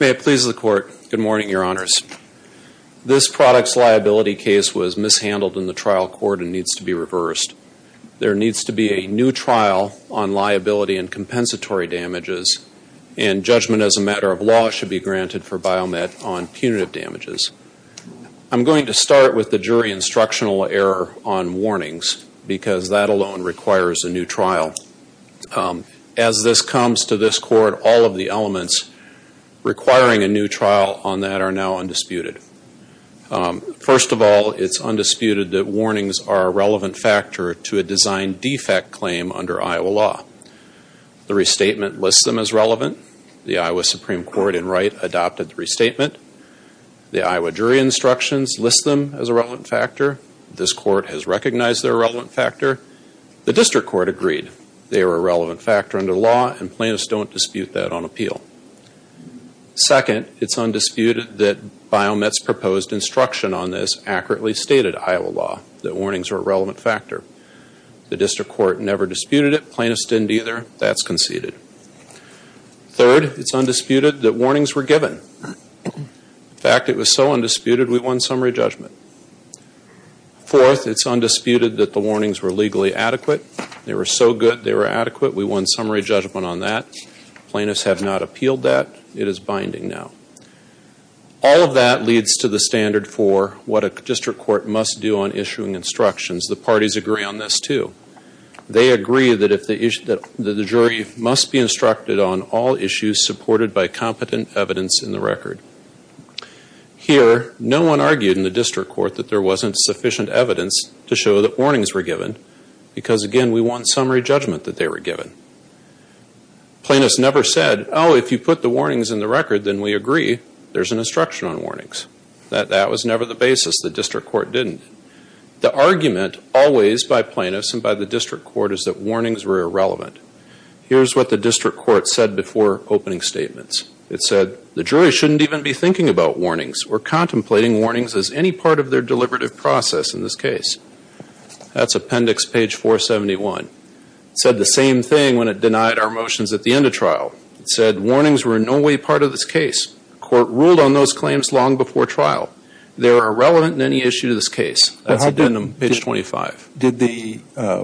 May it please the Court. Good morning, Your Honors. This product's liability case was mishandled in the trial court and needs to be reversed. There needs to be a new trial on liability and compensatory damages, and judgment as a matter of law should be granted for Biomet on punitive damages. I'm going to start with the jury instructional error on warnings because that alone requires a new trial. As this comes to this Court, all of the elements requiring a new trial on that are now undisputed. First of all, it's undisputed that warnings are a relevant factor to a design defect claim under Iowa law. The restatement lists them as relevant. The Iowa Supreme Court, in Wright, adopted the restatement. The Iowa jury instructions list them as a relevant factor. This Court has recognized they're a relevant factor. The District Court agreed they were a relevant factor under law and plaintiffs don't dispute that on appeal. Second, it's undisputed that Biomet's proposed instruction on this accurately stated Iowa law, that warnings are a relevant factor. The District Court never disputed it. Plaintiffs didn't either. That's conceded. Third, it's undisputed that warnings were given. In fact, it was so undisputed we won summary judgment. Fourth, it's undisputed that the warnings were legally adequate. They were so good they were adequate. We won summary judgment on that. Plaintiffs have not appealed that. It is binding now. All of that leads to the standard for what a District Court must do on issuing instructions. The parties agree on this too. They agree that the jury must be instructed on all issues supported by competent evidence in the record. Here, no one argued in the District Court that there wasn't sufficient evidence to show that warnings were given because again, we won summary judgment that they were given. Plaintiffs never said, oh, if you put the warnings in the record, then we agree there's an instruction on warnings. That was never the basis. The District Court didn't. The argument always by plaintiffs and by the District Court is that warnings were irrelevant. Here's what the District Court said before opening statements. It said, the jury shouldn't even be thinking about warnings or contemplating warnings as any part of their deliberative process in this case. That's appendix page 471. It said the same thing when it denied our motions at the end of trial. It said, warnings were in no way part of this case. The court ruled on it before trial. They are irrelevant in any issue to this case. That's appendix page 25. Did the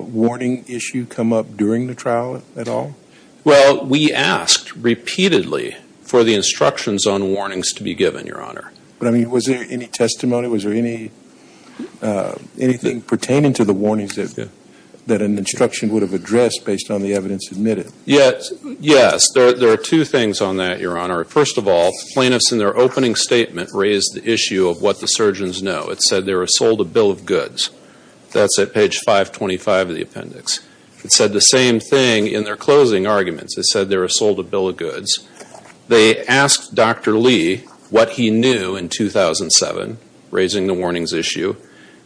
warning issue come up during the trial at all? Well, we asked repeatedly for the instructions on warnings to be given, Your Honor. But I mean, was there any testimony? Was there anything pertaining to the warnings that an instruction would have addressed based on the evidence admitted? Yes. There are two things on that, Your Honor. First of all, plaintiffs in their opening statement raised the issue of what the surgeons know. It said they were sold a bill of goods. That's at page 525 of the appendix. It said the same thing in their closing arguments. It said they were sold a bill of goods. They asked Dr. Lee what he knew in 2007, raising the warnings issue.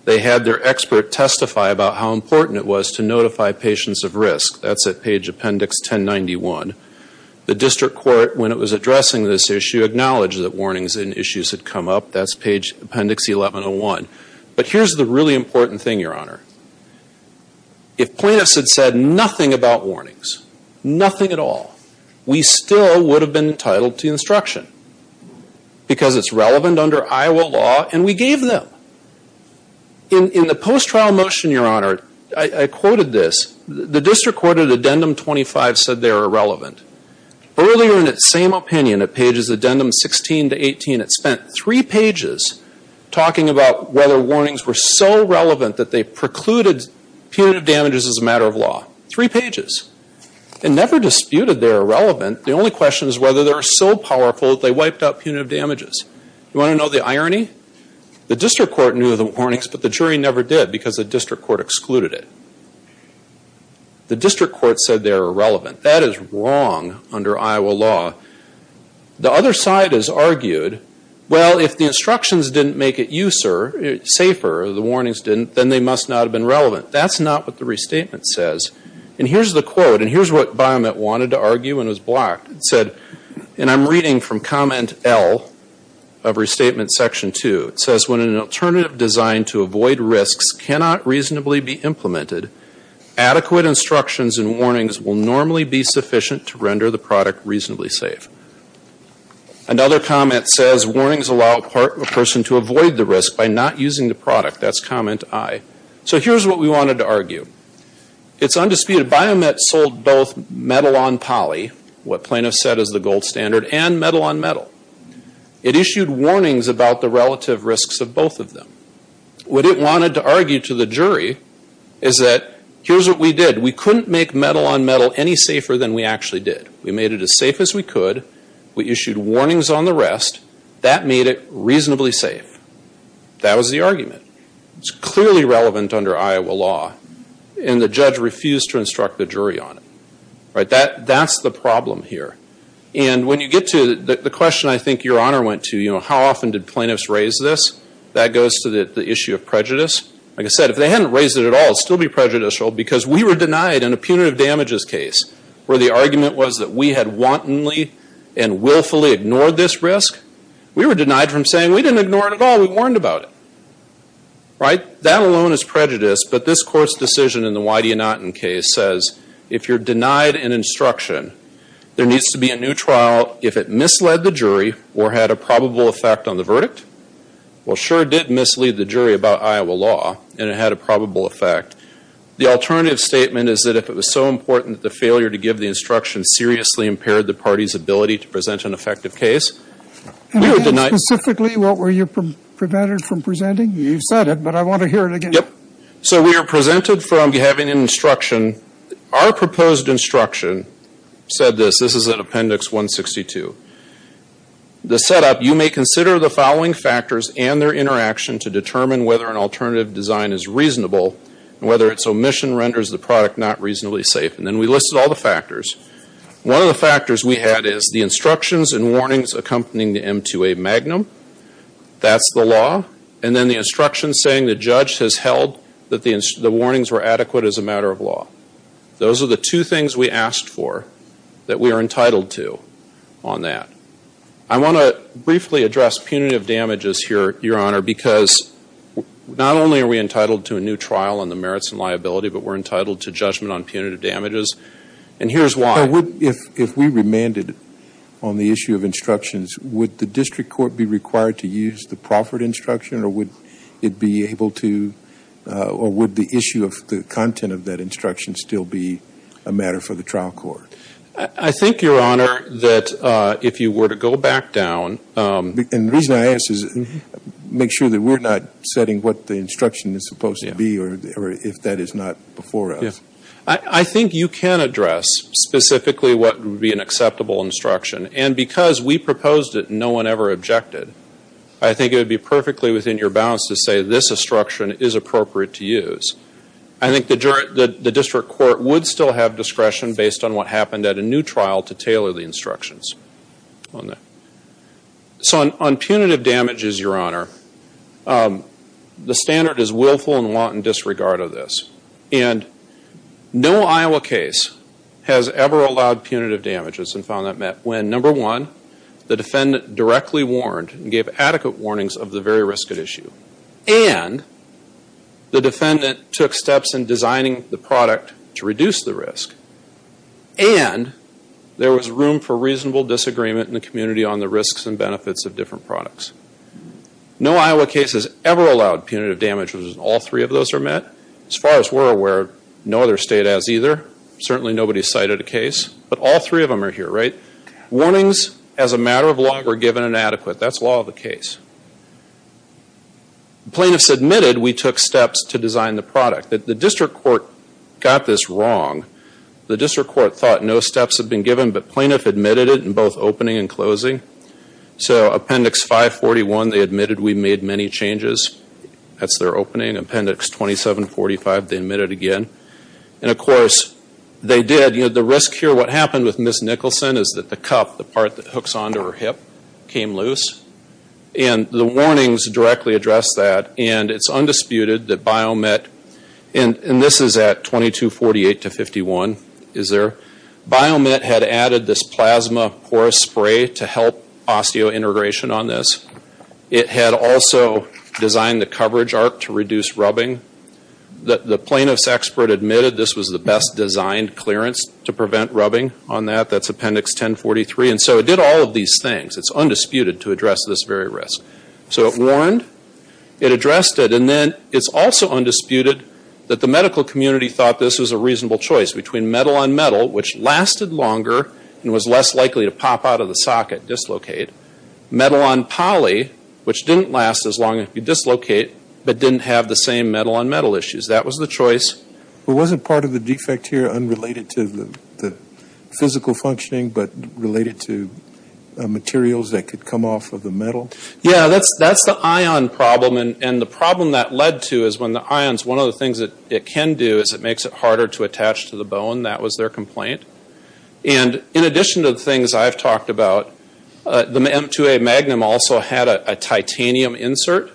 They had their expert testify about how important it was to notify patients of risk. That's at page appendix 1091. The plaintiffs acknowledged that warnings and issues had come up. That's page appendix 1101. But here's the really important thing, Your Honor. If plaintiffs had said nothing about warnings, nothing at all, we still would have been entitled to the instruction because it's relevant under Iowa law and we gave them. In the post-trial motion, Your Honor, I quoted this. The district court at addendum 25 said they are irrelevant. Earlier in its same opinion at pages addendum 16 to 18, it spent three pages talking about whether warnings were so relevant that they precluded punitive damages as a matter of law. Three pages. It never disputed they're irrelevant. The only question is whether they're so powerful that they wiped out punitive damages. You want to know the irony? The district court knew the warnings, but the jury never did because the district court excluded it. The district court said they're irrelevant. That is wrong under Iowa law. The other side has argued, well, if the instructions didn't make it safer, the warnings didn't, then they must not have been relevant. That's not what the restatement says. And here's the quote. And here's what Biomet wanted to argue and was blocked. It said, and I'm reading from comment L of restatement section two. It says, when an alternative designed to avoid risks cannot reasonably be implemented, adequate instructions and warnings will normally be sufficient to render the product reasonably safe. Another comment says, warnings allow a person to avoid the risk by not using the product. That's comment I. So here's what we wanted to argue. It's undisputed. Biomet sold both metal on poly, what plaintiffs said is the gold standard, and metal on metal. It issued warnings about the relative risks of both of them. What it said is that, here's what we did. We couldn't make metal on metal any safer than we actually did. We made it as safe as we could. We issued warnings on the rest. That made it reasonably safe. That was the argument. It's clearly relevant under Iowa law. And the judge refused to instruct the jury on it. That's the problem here. And when you get to the question I think Your Honor went to, you know, how often did plaintiffs raise this? That goes to the issue of prejudice. Like I said, if they hadn't raised it at all, it would still be prejudicial because we were denied in a punitive damages case where the argument was that we had wantonly and willfully ignored this risk. We were denied from saying we didn't ignore it at all. We warned about it. Right? That alone is prejudice. But this Court's decision in the Why Do You Not In case says, if you're denied an instruction, there needs to be a new trial if it misled the jury or had a probable effect on the verdict. Well, sure, it did mislead the jury about Iowa law and it had a probable effect. The alternative statement is that if it was so important that the failure to give the instruction seriously impaired the party's ability to present an effective case, we were denied Can you say specifically what were you prevented from presenting? You've said it, but I want to hear it again. Yep. So we were presented from having an instruction. Our proposed instruction said this. This is in Appendix 162. The setup, you may consider the following factors and their interaction to determine whether an alternative design is reasonable and whether its omission renders the product not reasonably safe. And then we listed all the factors. One of the factors we had is the instructions and warnings accompanying the M2A Magnum. That's the law. And then the instructions saying the judge has held that the warnings were adequate as a matter of on that. I want to briefly address punitive damages here, Your Honor, because not only are we entitled to a new trial on the merits and liability, but we're entitled to judgment on punitive damages. And here's why. If we remanded on the issue of instructions, would the district court be required to use the Crawford instruction or would it be able to or would the issue of the content of that instruction still be a matter for the trial court? I think, Your Honor, that if you were to go back down. And the reason I ask is make sure that we're not setting what the instruction is supposed to be or if that is not before us. I think you can address specifically what would be an acceptable instruction. And because we proposed it and no one ever objected, I think it would be perfectly within your bounds to say this instruction is appropriate to use. I think the district court would still have discretion based on what happened at a new trial to tailor the instructions. So on punitive damages, Your Honor, the standard is willful and wanton disregard of this. And no Iowa case has ever allowed punitive damages and found that met when, number one, the defendant directly warned and gave adequate warnings of the very risk at issue. And the defendant took steps in designing the product to reduce the risk. And there was room for reasonable disagreement in the community on the risks and benefits of different products. No Iowa case has ever allowed punitive damages and all three of those are met. As far as we're aware, no other state has either. Certainly nobody cited a case. But all three of them are here, right? Warnings as a matter of law were given and adequate. That's law of the product. The district court got this wrong. The district court thought no steps had been given but plaintiff admitted it in both opening and closing. So Appendix 541, they admitted we made many changes. That's their opening. Appendix 2745, they admitted again. And of course, they did. The risk here, what happened with Ms. Nicholson is that the cup, the part that hooks onto her hip, came loose. And the warnings directly addressed that and it's undisputed that BioMet, and this is at 2248-51, is there? BioMet had added this plasma porous spray to help osteointegration on this. It had also designed the coverage arc to reduce rubbing. The plaintiff's expert admitted this was the best designed clearance to prevent rubbing on that. That's Appendix 1043. And so it did all of these things. It's undisputed to address this very risk. So it warned, it addressed it, and then it's also undisputed that the medical community thought this was a reasonable choice between metal on metal, which lasted longer and was less likely to pop out of the socket, dislocate, metal on poly, which didn't last as long as you dislocate but didn't have the same metal on metal issues. That was the choice. But wasn't part of the defect here unrelated to the physical functioning but related to the metal? Yeah, that's the ion problem. And the problem that led to is when the ions, one of the things that it can do is it makes it harder to attach to the bone. That was their complaint. And in addition to the things I've talked about, the M2A Magnum also had a titanium insert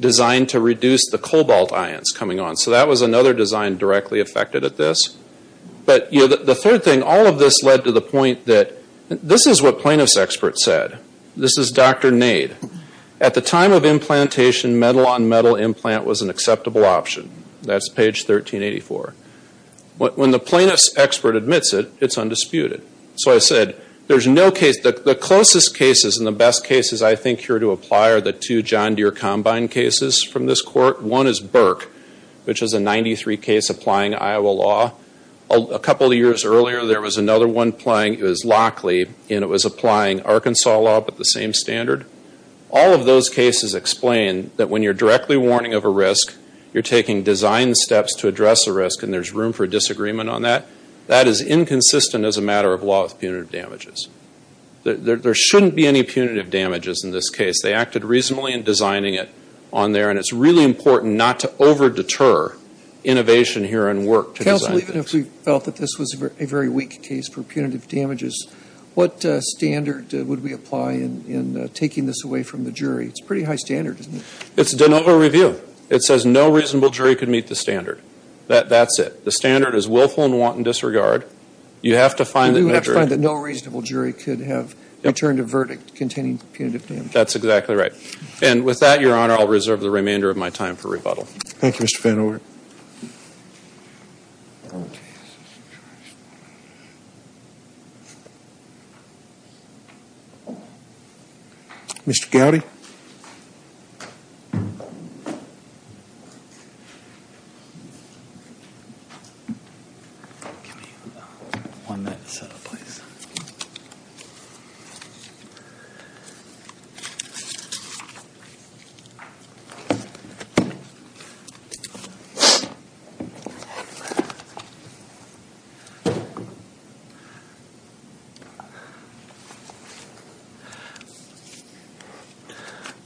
designed to reduce the cobalt ions coming on. So that was another design directly affected at this. But the third thing, all of this led to the point that this is what plaintiff's expert said. This is Dr. Nade. At the time of implantation, metal on metal implant was an acceptable option. That's page 1384. When the plaintiff's expert admits it, it's undisputed. So I said, there's no case, the closest cases and the best cases I think here to apply are the two John Deere combine cases from this court. One is Burke, which is a 93 case applying Iowa law. A couple of years earlier there was another one applying, it was Lockley, and it was applying Arkansas law, but the same standard. All of those cases explain that when you're directly warning of a risk, you're taking design steps to address a risk and there's room for disagreement on that. That is inconsistent as a matter of law of punitive damages. There shouldn't be any punitive damages in this case. They acted reasonably in designing it on there and it's really important not to over deter innovation here in work to design it. Counsel, even if we felt that this was a very weak case for punitive damages, what standard would we apply in taking this away from the jury? It's a pretty high standard, isn't it? It's de novo review. It says no reasonable jury could meet the standard. That's it. The standard is willful and wanton disregard. You have to find that no reasonable jury could have returned a verdict containing punitive damages. That's exactly right. And with that, your Honor, I'll reserve the remainder of my time for rebuttal. Thank you, Mr. Van Orn.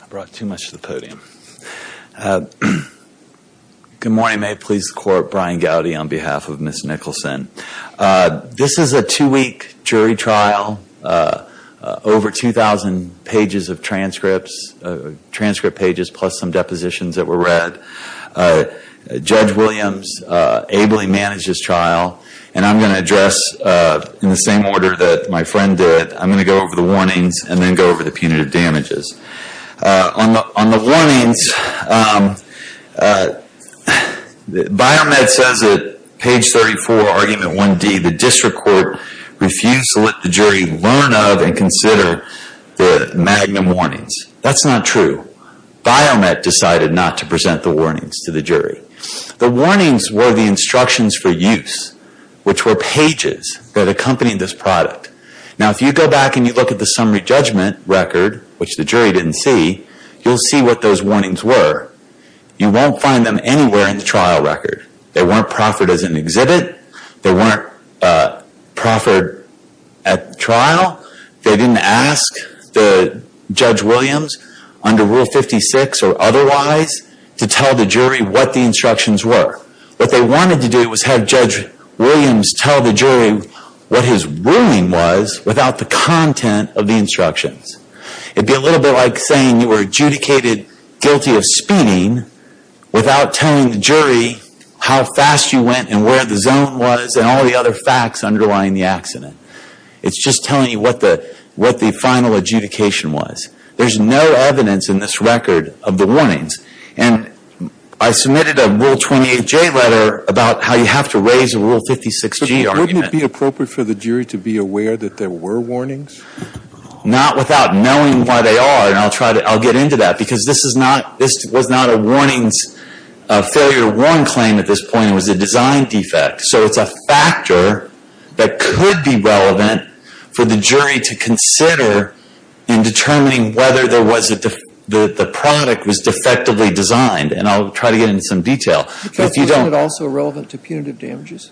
I brought too much to the podium. Good morning. May it please the Court. Brian Gowdy on behalf of Ms. Nicholson. This is a two-week jury trial. Over 2,000 pages of transcripts, transcript Judge Williams ably managed this trial and I'm going to address in the same order that my friend did. I'm going to go over the warnings and then go over the punitive damages. On the warnings, Biomed says it, page 34, argument 1D, the district court refused to let the jury learn of and consider the magnum warnings. That's not true. Biomed decided not to present the warnings to the jury. The warnings were the instructions for use, which were pages that accompanied this product. Now, if you go back and you look at the summary judgment record, which the jury didn't see, you'll see what those warnings were. You won't find them anywhere in the trial record. They weren't proffered as an exhibit. They weren't proffered at trial. They didn't ask Judge Williams, under Rule 56 or otherwise, to tell the jury what the instructions were. What they wanted to do was have Judge Williams tell the jury what his ruling was without the content of the instructions. It'd be a little bit like saying you were adjudicated guilty of speeding without telling the jury how fast you went and where the zone was and all the other facts underlying the accident. It's just telling you what the final adjudication was. There's no evidence in this record of the warnings. And I submitted a Rule 28J letter about how you have to raise a Rule 56G argument. But wouldn't it be appropriate for the jury to be aware that there were warnings? Not without knowing why they are. And I'll try to, I'll get into that. Because this is a design defect. So it's a factor that could be relevant for the jury to consider in determining whether there was a, the product was defectively designed. And I'll try to get into some detail. But wasn't it also relevant to punitive damages?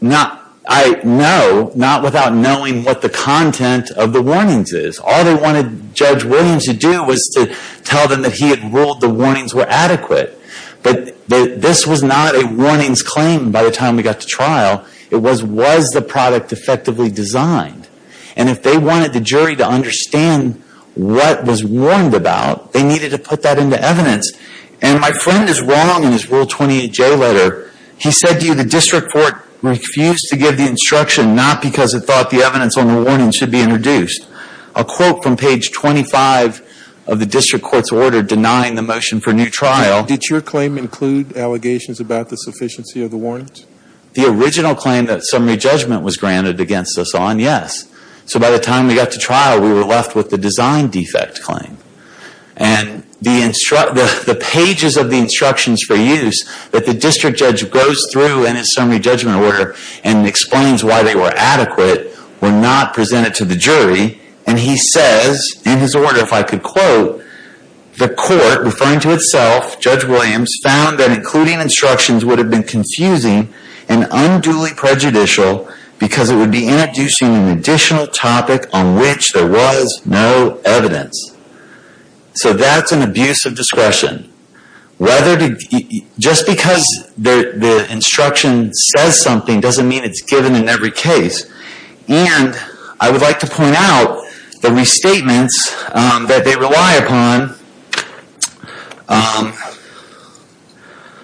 Not, I, no. Not without knowing what the content of the warnings is. All they wanted Judge Williams to do was to tell them that he had ruled the warnings were adequate. But this was not a warnings claim by the time we got to trial. It was, was the product defectively designed? And if they wanted the jury to understand what was warned about, they needed to put that into evidence. And my friend is wrong in his Rule 28J letter. He said to you the district court refused to give the instruction not because it thought the evidence on the warning should be introduced. A quote from page 25 of the district court's order denying the motion for new trial. Did your claim include allegations about the sufficiency of the warrant? The original claim that summary judgment was granted against us on, yes. So by the time we got to trial, we were left with the design defect claim. And the instruct, the pages of the instructions for use that the district judge goes through in his summary judgment order and explains why they were adequate were not presented to the jury. And he says in his order, if I could quote, the court referring to itself, Judge Williams found that including instructions would have been confusing and unduly prejudicial because it would be introducing an additional topic on which there was no evidence. So that's an abuse of discretion. Whether to, just because the instruction says something doesn't mean it's given in every case. And I would like to point out the restatements that they rely upon.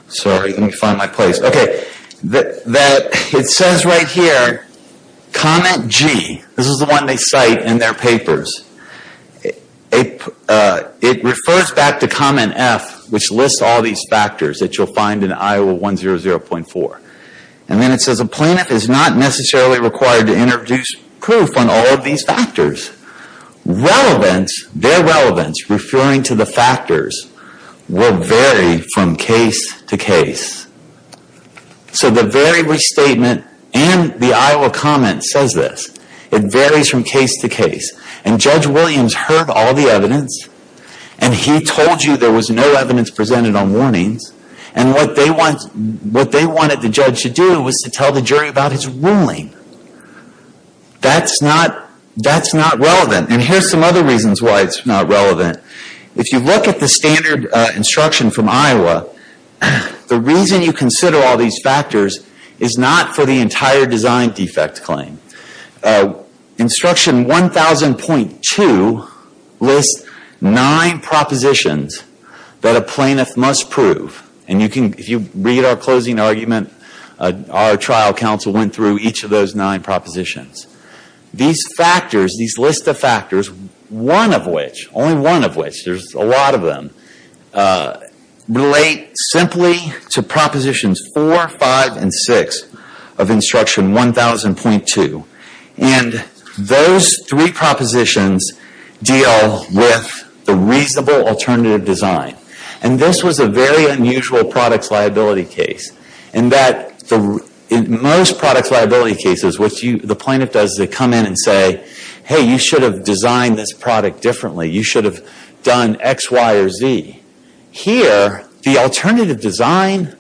Sorry, let me find my place. Okay. It says right here, comment G. This is the one they cite in their papers. It refers back to comment F, which lists all these factors that you'll find in Iowa 100.4. And then it says a plaintiff is not necessarily required to introduce proof on all of these factors. Relevance, their relevance referring to the factors will vary from case to case. So the very restatement and the Iowa comment says this. It varies from case to case. And Judge Williams heard all the evidence and he told you there was no evidence presented on warnings. And what they wanted the judge to do was to tell the jury about his ruling. That's not relevant. And here's some other reasons why it's not relevant. If you look at the standard instruction from Iowa, the reason you consider all these factors is not for the entire design defect claim. Instruction 1000.2 lists nine propositions that a plaintiff must prove. And you can, if you read our closing argument, our trial counsel went through each of those nine propositions. These factors, these list of factors, one of which, only one of which, there's a lot of them, relate simply to propositions 4, 5, and 6 of instruction 1000.2. And those three propositions deal with the reasonable alternative design. And this was a very unusual products liability case. In most products liability cases, what the plaintiff does is they come in and say, hey, you should have designed this product differently. You should have done X, Y, or Z. Here, the alternative design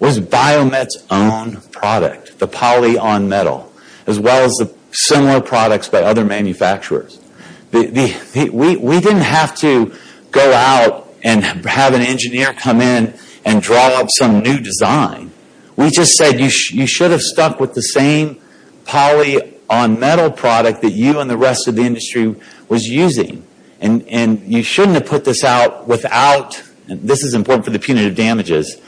was Biomet's own product, the poly on metal, as well as the similar products by other manufacturers. We didn't have to go out and have an engineer come in and draw up some new design. We just said you should have stuck with the same poly on metal product that you and the rest of the industry was using. And you shouldn't have put this out without, and this is important for the punitive damages,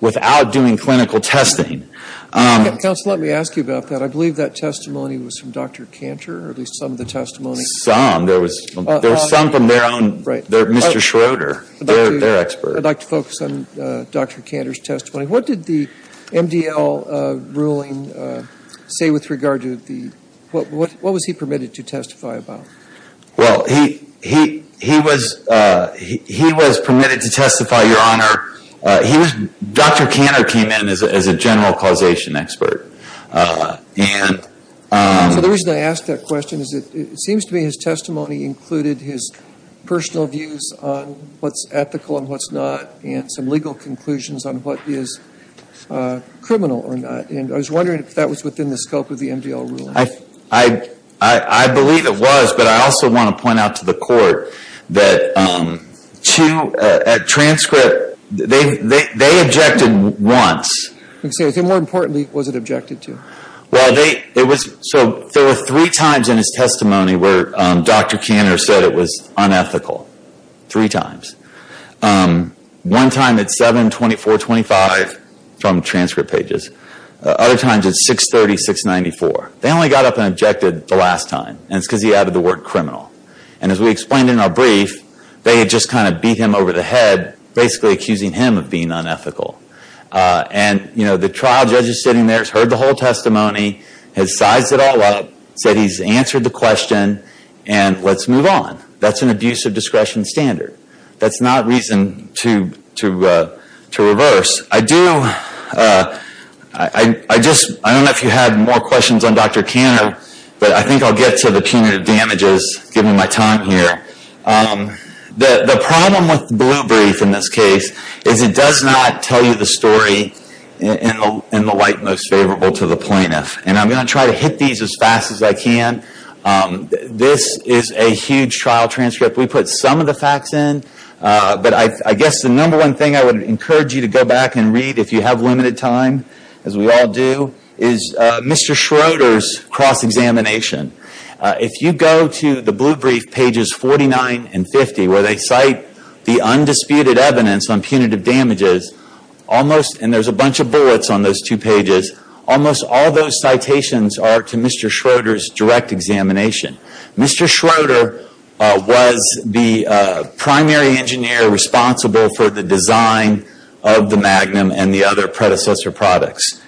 without doing clinical testing. Counsel, let me ask you about that. I believe that testimony was from Dr. Cantor, or at least some of the testimony. Some. There was some from their own, Mr. Schroeder, their expert. I'd like to focus on Dr. Cantor's testimony. What did the MDL ruling say with regard to the, what was he permitted to testify about? Well, he was permitted to testify, Your Honor. Dr. Cantor came in as a general causation expert. And. So the reason I ask that question is it seems to me his testimony included his personal views on what's ethical and what's not, and some legal conclusions on what is criminal or not. And I was wondering if that was within the scope of the MDL ruling. I believe it was, but I also want to point out to the court that at transcript, they objected once. More importantly, was it objected to? Well, so there were three times in his testimony where Dr. Cantor said it was unethical. Three times. One time at 7, 24, 25 from transcript pages. Other times at 630, 694. They only got up and objected the last time. And it's because he added the word criminal. And as we explained in our brief, they had just kind of beat him over the head, basically accusing him of being unethical. And, you know, the trial judge is sitting there, has heard the whole testimony, has sized it all up, said he's answered the question, and let's move on. That's an abuse of discretion standard. That's not reason to reverse. I do, I just, I don't know if you had more questions on Dr. Cantor, but I think I'll get to the punitive damages given my time here. The problem with the blue brief in this case is it does not tell you the story in the light most favorable to the plaintiff. And I'm going to try to hit these as fast as I can. This is a huge trial transcript. We put some of the facts in, but I guess the number one thing I would encourage you to go back and read if you have a minute of time, as we all do, is Mr. Schroeder's cross-examination. If you go to the blue brief pages 49 and 50, where they cite the undisputed evidence on punitive damages, almost, and there's a bunch of bullets on those two pages, almost all those citations are to Mr. Schroeder's direct examination. Mr. Schroeder was the primary engineer responsible for the design of the Magnum and the other predecessor products.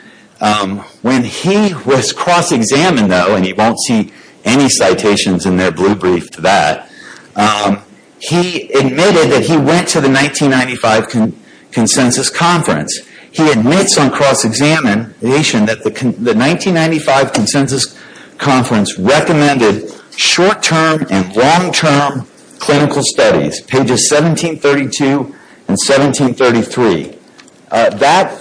When he was cross-examined, though, and you won't see any citations in their blue brief to that, he admitted that he went to the 1995 consensus conference. He admits on cross-examination that the 1995 consensus conference recommended short-term and long-term clinical studies, pages 1732 and 1733. That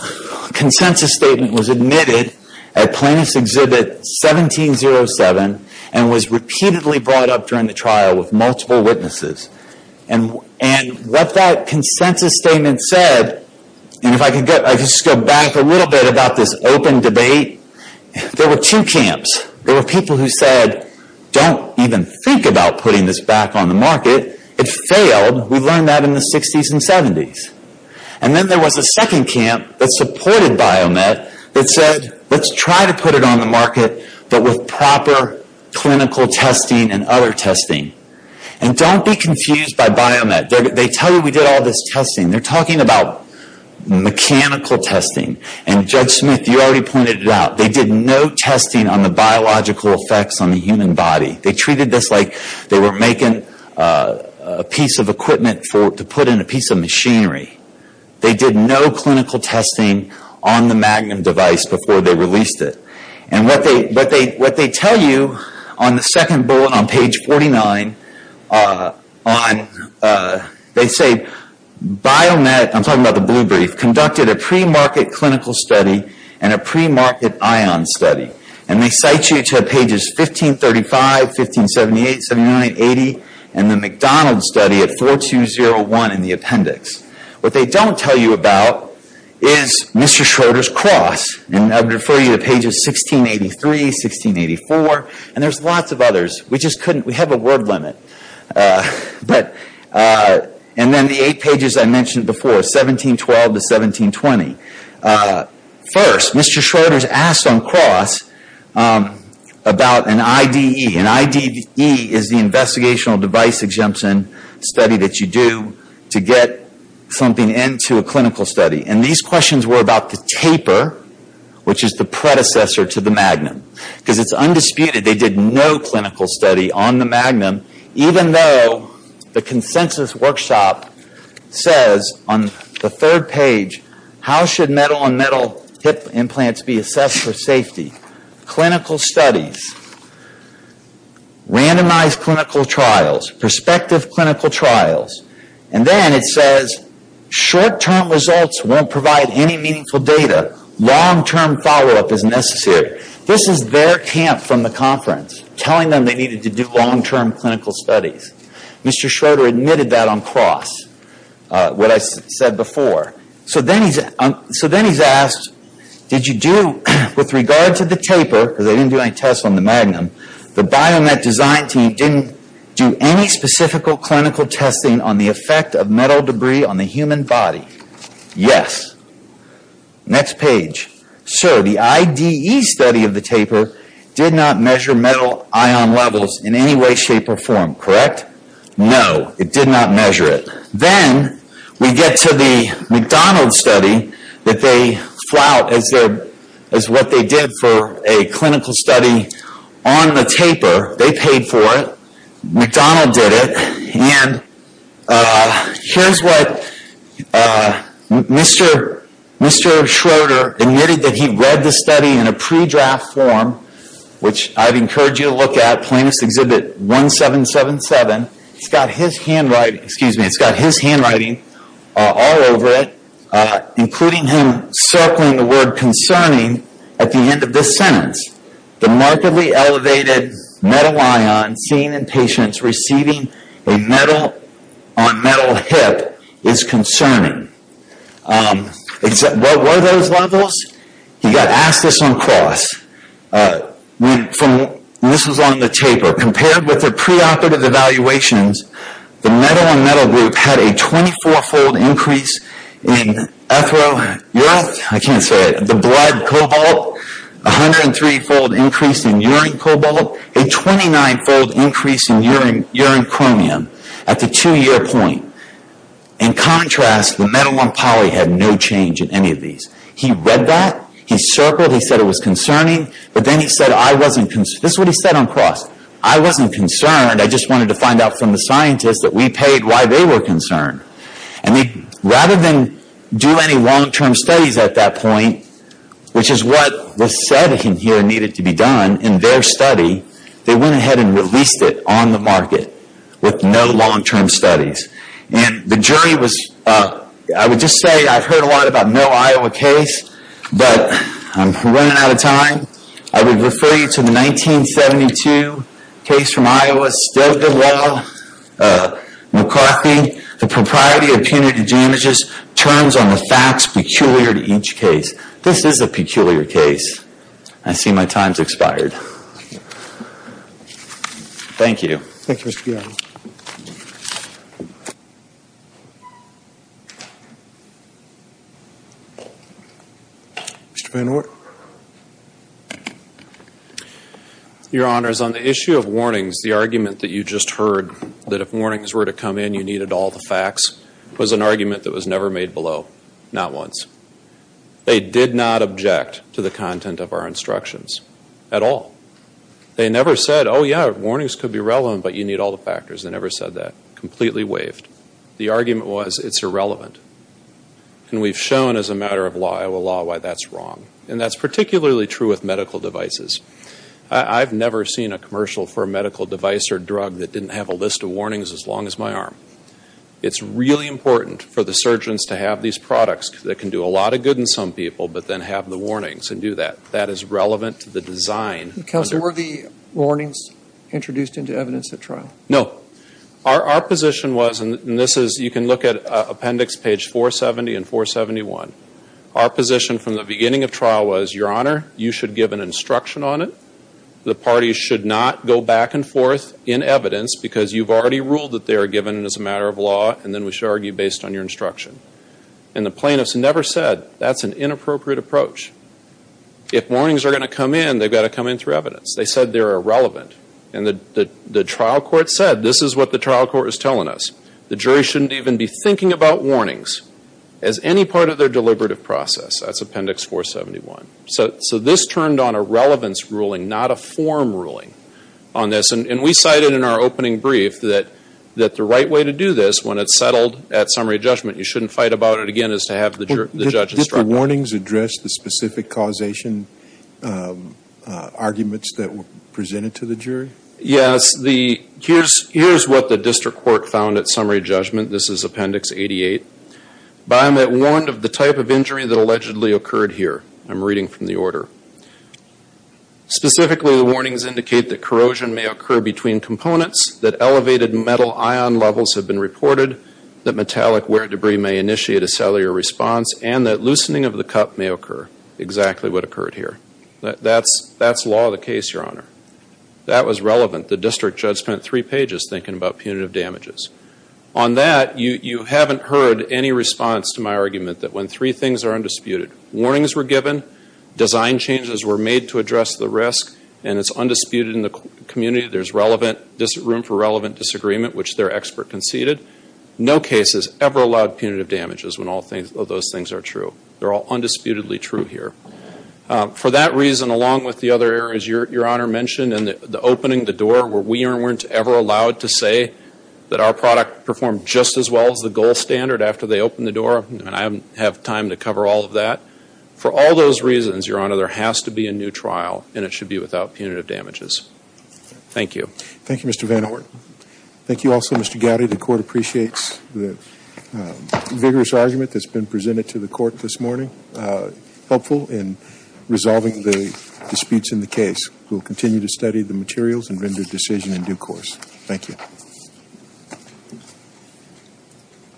consensus statement was admitted at Plaintiffs' Exhibit 1707 and was repeatedly brought up during the trial with multiple witnesses. And what that consensus statement said, and if I could just go back a little bit about this open debate, there were two camps. There were people who said, don't even think about putting this back on the market. It failed. We learned that in the 60s and 70s. And then there was a second camp that supported Biomet that said, let's try to put it on the market, but with proper clinical testing and other testing. And don't be confused by Biomet. They tell you we did all this testing. They're talking about mechanical testing. And Judge Smith, you already pointed it out. They did no testing on the biological effects on the human body. They treated this like they were making a piece of equipment to put in a piece of machinery. They did no clinical testing on the Magnum device before they released it. And what they tell you on the second bullet on page 49, they say Biomet, I'm talking about the blue brief, conducted a pre-market clinical study and a pre-market ion study. And they cite you to pages 1535, 1578, 1579, 1580, and the McDonald study at 4201 in the appendix. What they don't tell you about is Mr. Schroeder's Cross. And I'll refer you to pages 1683, 1684, and there's lots of others. We just couldn't, we have a word limit. And then the 8 pages I mentioned before, 1712 to 1720. First, Mr. Schroeder's asked on Cross about an IDE. An IDE is the Investigational Device Exemption study that you do to get something into a clinical study. And these questions were about the taper, which is the predecessor to the Magnum. Because it's undisputed they did no clinical study on the Magnum, even though the consensus workshop says on the third page, how should metal on metal hip implants be assessed for safety? Clinical studies, randomized clinical trials, prospective clinical trials. And then it says, short-term results won't provide any meaningful data. Long-term follow-up is necessary. This is their camp from the conference telling them they needed to do long-term clinical studies. Mr. Schroeder admitted that on Cross, what I said before. So then he's asked, did you do, with regard to the taper, because they didn't do any tests on the Magnum, the BioMet design team didn't do any specifical clinical testing on the effect of metal debris on the human body? Yes. Next page. So the IDE study of the taper did not measure metal ion levels in any way, shape, or form, correct? No, it did not measure it. Then we get to the McDonald study that they flout as what they did for a clinical study on the taper. They paid for it. McDonald did it. And here's what Mr. Schroeder admitted that he read the study in a pre-draft form, which I'd encourage you to look at, Plaintiff's Exhibit 1777. It's got his handwriting all over it, including him circling the word concerning at the end of this sentence. The markedly is concerning. What were those levels? He got asked this on Cross. This was on the taper. Compared with the preoperative evaluations, the metal and metal group had a 24-fold increase in ethyl, I can't say it, the blood cobalt, 103-fold increase in urine cobalt, a 29-fold increase in urine chromium at the two-year point. In contrast, the metal one poly had no change in any of these. He read that. He circled. He said it was concerning. But then he said, I wasn't concerned. This is what he said on Cross. I wasn't concerned. I just wanted to find out from the scientists that we paid why they were concerned. Rather than do any long-term studies at that point, which is what was said in here needed to be done in their study, they went ahead and released it on the market with no long-term studies. The jury was, I would just say I've heard a lot about no Iowa case, but I'm running out of time. I would refer you to the 1972 case from Iowa, still good law, McCarthy, the propriety of punitive damages turns on the facts peculiar to each case. This is a long-term study. It's expired. Thank you. Your Honors, on the issue of warnings, the argument that you just heard, that if warnings were to come in, you needed all the facts, was an argument that was never made below. Not once. They did not object to the content of our instructions. At all. They never said, oh yeah, warnings could be relevant, but you need all the factors. They never said that. Completely waived. The argument was, it's irrelevant. And we've shown as a matter of Iowa law why that's wrong. And that's particularly true with medical devices. I've never seen a commercial for a medical device or drug that didn't have a list of warnings as long as my arm. It's really important for the surgeons to have these products that can do a lot of good in some people, but then have the warnings and do that. That is relevant to the design. Counsel, were the warnings introduced into evidence at trial? No. Our position was, and this is, you can look at appendix page 470 and 471. Our position from the beginning of trial was, Your Honor, you should give an instruction on it. The parties should not go back and forth in evidence because you've already ruled that they are given as a matter of law, and then we should argue based on your instruction. And the plaintiffs never said, that's an inappropriate approach. If warnings are going to come in, they've got to come in through evidence. They said they're irrelevant. And the trial court said, this is what the trial court is telling us. The jury shouldn't even be thinking about warnings as any part of their deliberative process. That's appendix 471. So this turned on a relevance ruling, not a form ruling on this. And we cited in our opening brief that the right way to do this, when it's settled at summary judgment, you shouldn't fight about it again as to have the judge instruct you. Did the warnings address the specific causation arguments that were presented to the jury? Yes. Here's what the district court found at summary judgment. This is appendix 88. Biomet warned of the type of injury that allegedly occurred here. I'm reading from the order. Specifically the warnings indicate that corrosion may occur between components, that elevated metal ion levels have been reported, that metallic wear debris may initiate a cellular response and that loosening of the cup may occur. Exactly what occurred here. That's law of the case, Your Honor. That was relevant. The district judge spent three pages thinking about punitive damages. On that, you haven't heard any response to my argument that when three things are undisputed, warnings were given, design changes were made to address the risk, and it's undisputed in the community, there's room for relevant disagreement, which their expert conceded. No case has ever allowed punitive damages when all of those things are true. They're all undisputedly true here. For that reason, along with the other areas Your Honor mentioned, and the opening, the door, where we weren't ever allowed to say that our product performed just as well as the gold standard after they opened the door, and I don't have time to cover all of that. For all those reasons, Your Honor, there has to be a new trial, and it should be without punitive damages. Thank you. Thank you, Mr. Van Horten. Thank you also, Mr. Gowdy. The Court appreciates the vigorous argument that's been presented to the Court this morning, helpful in resolving the disputes in the case. We'll continue to study the materials and render decision in due course. Thank you.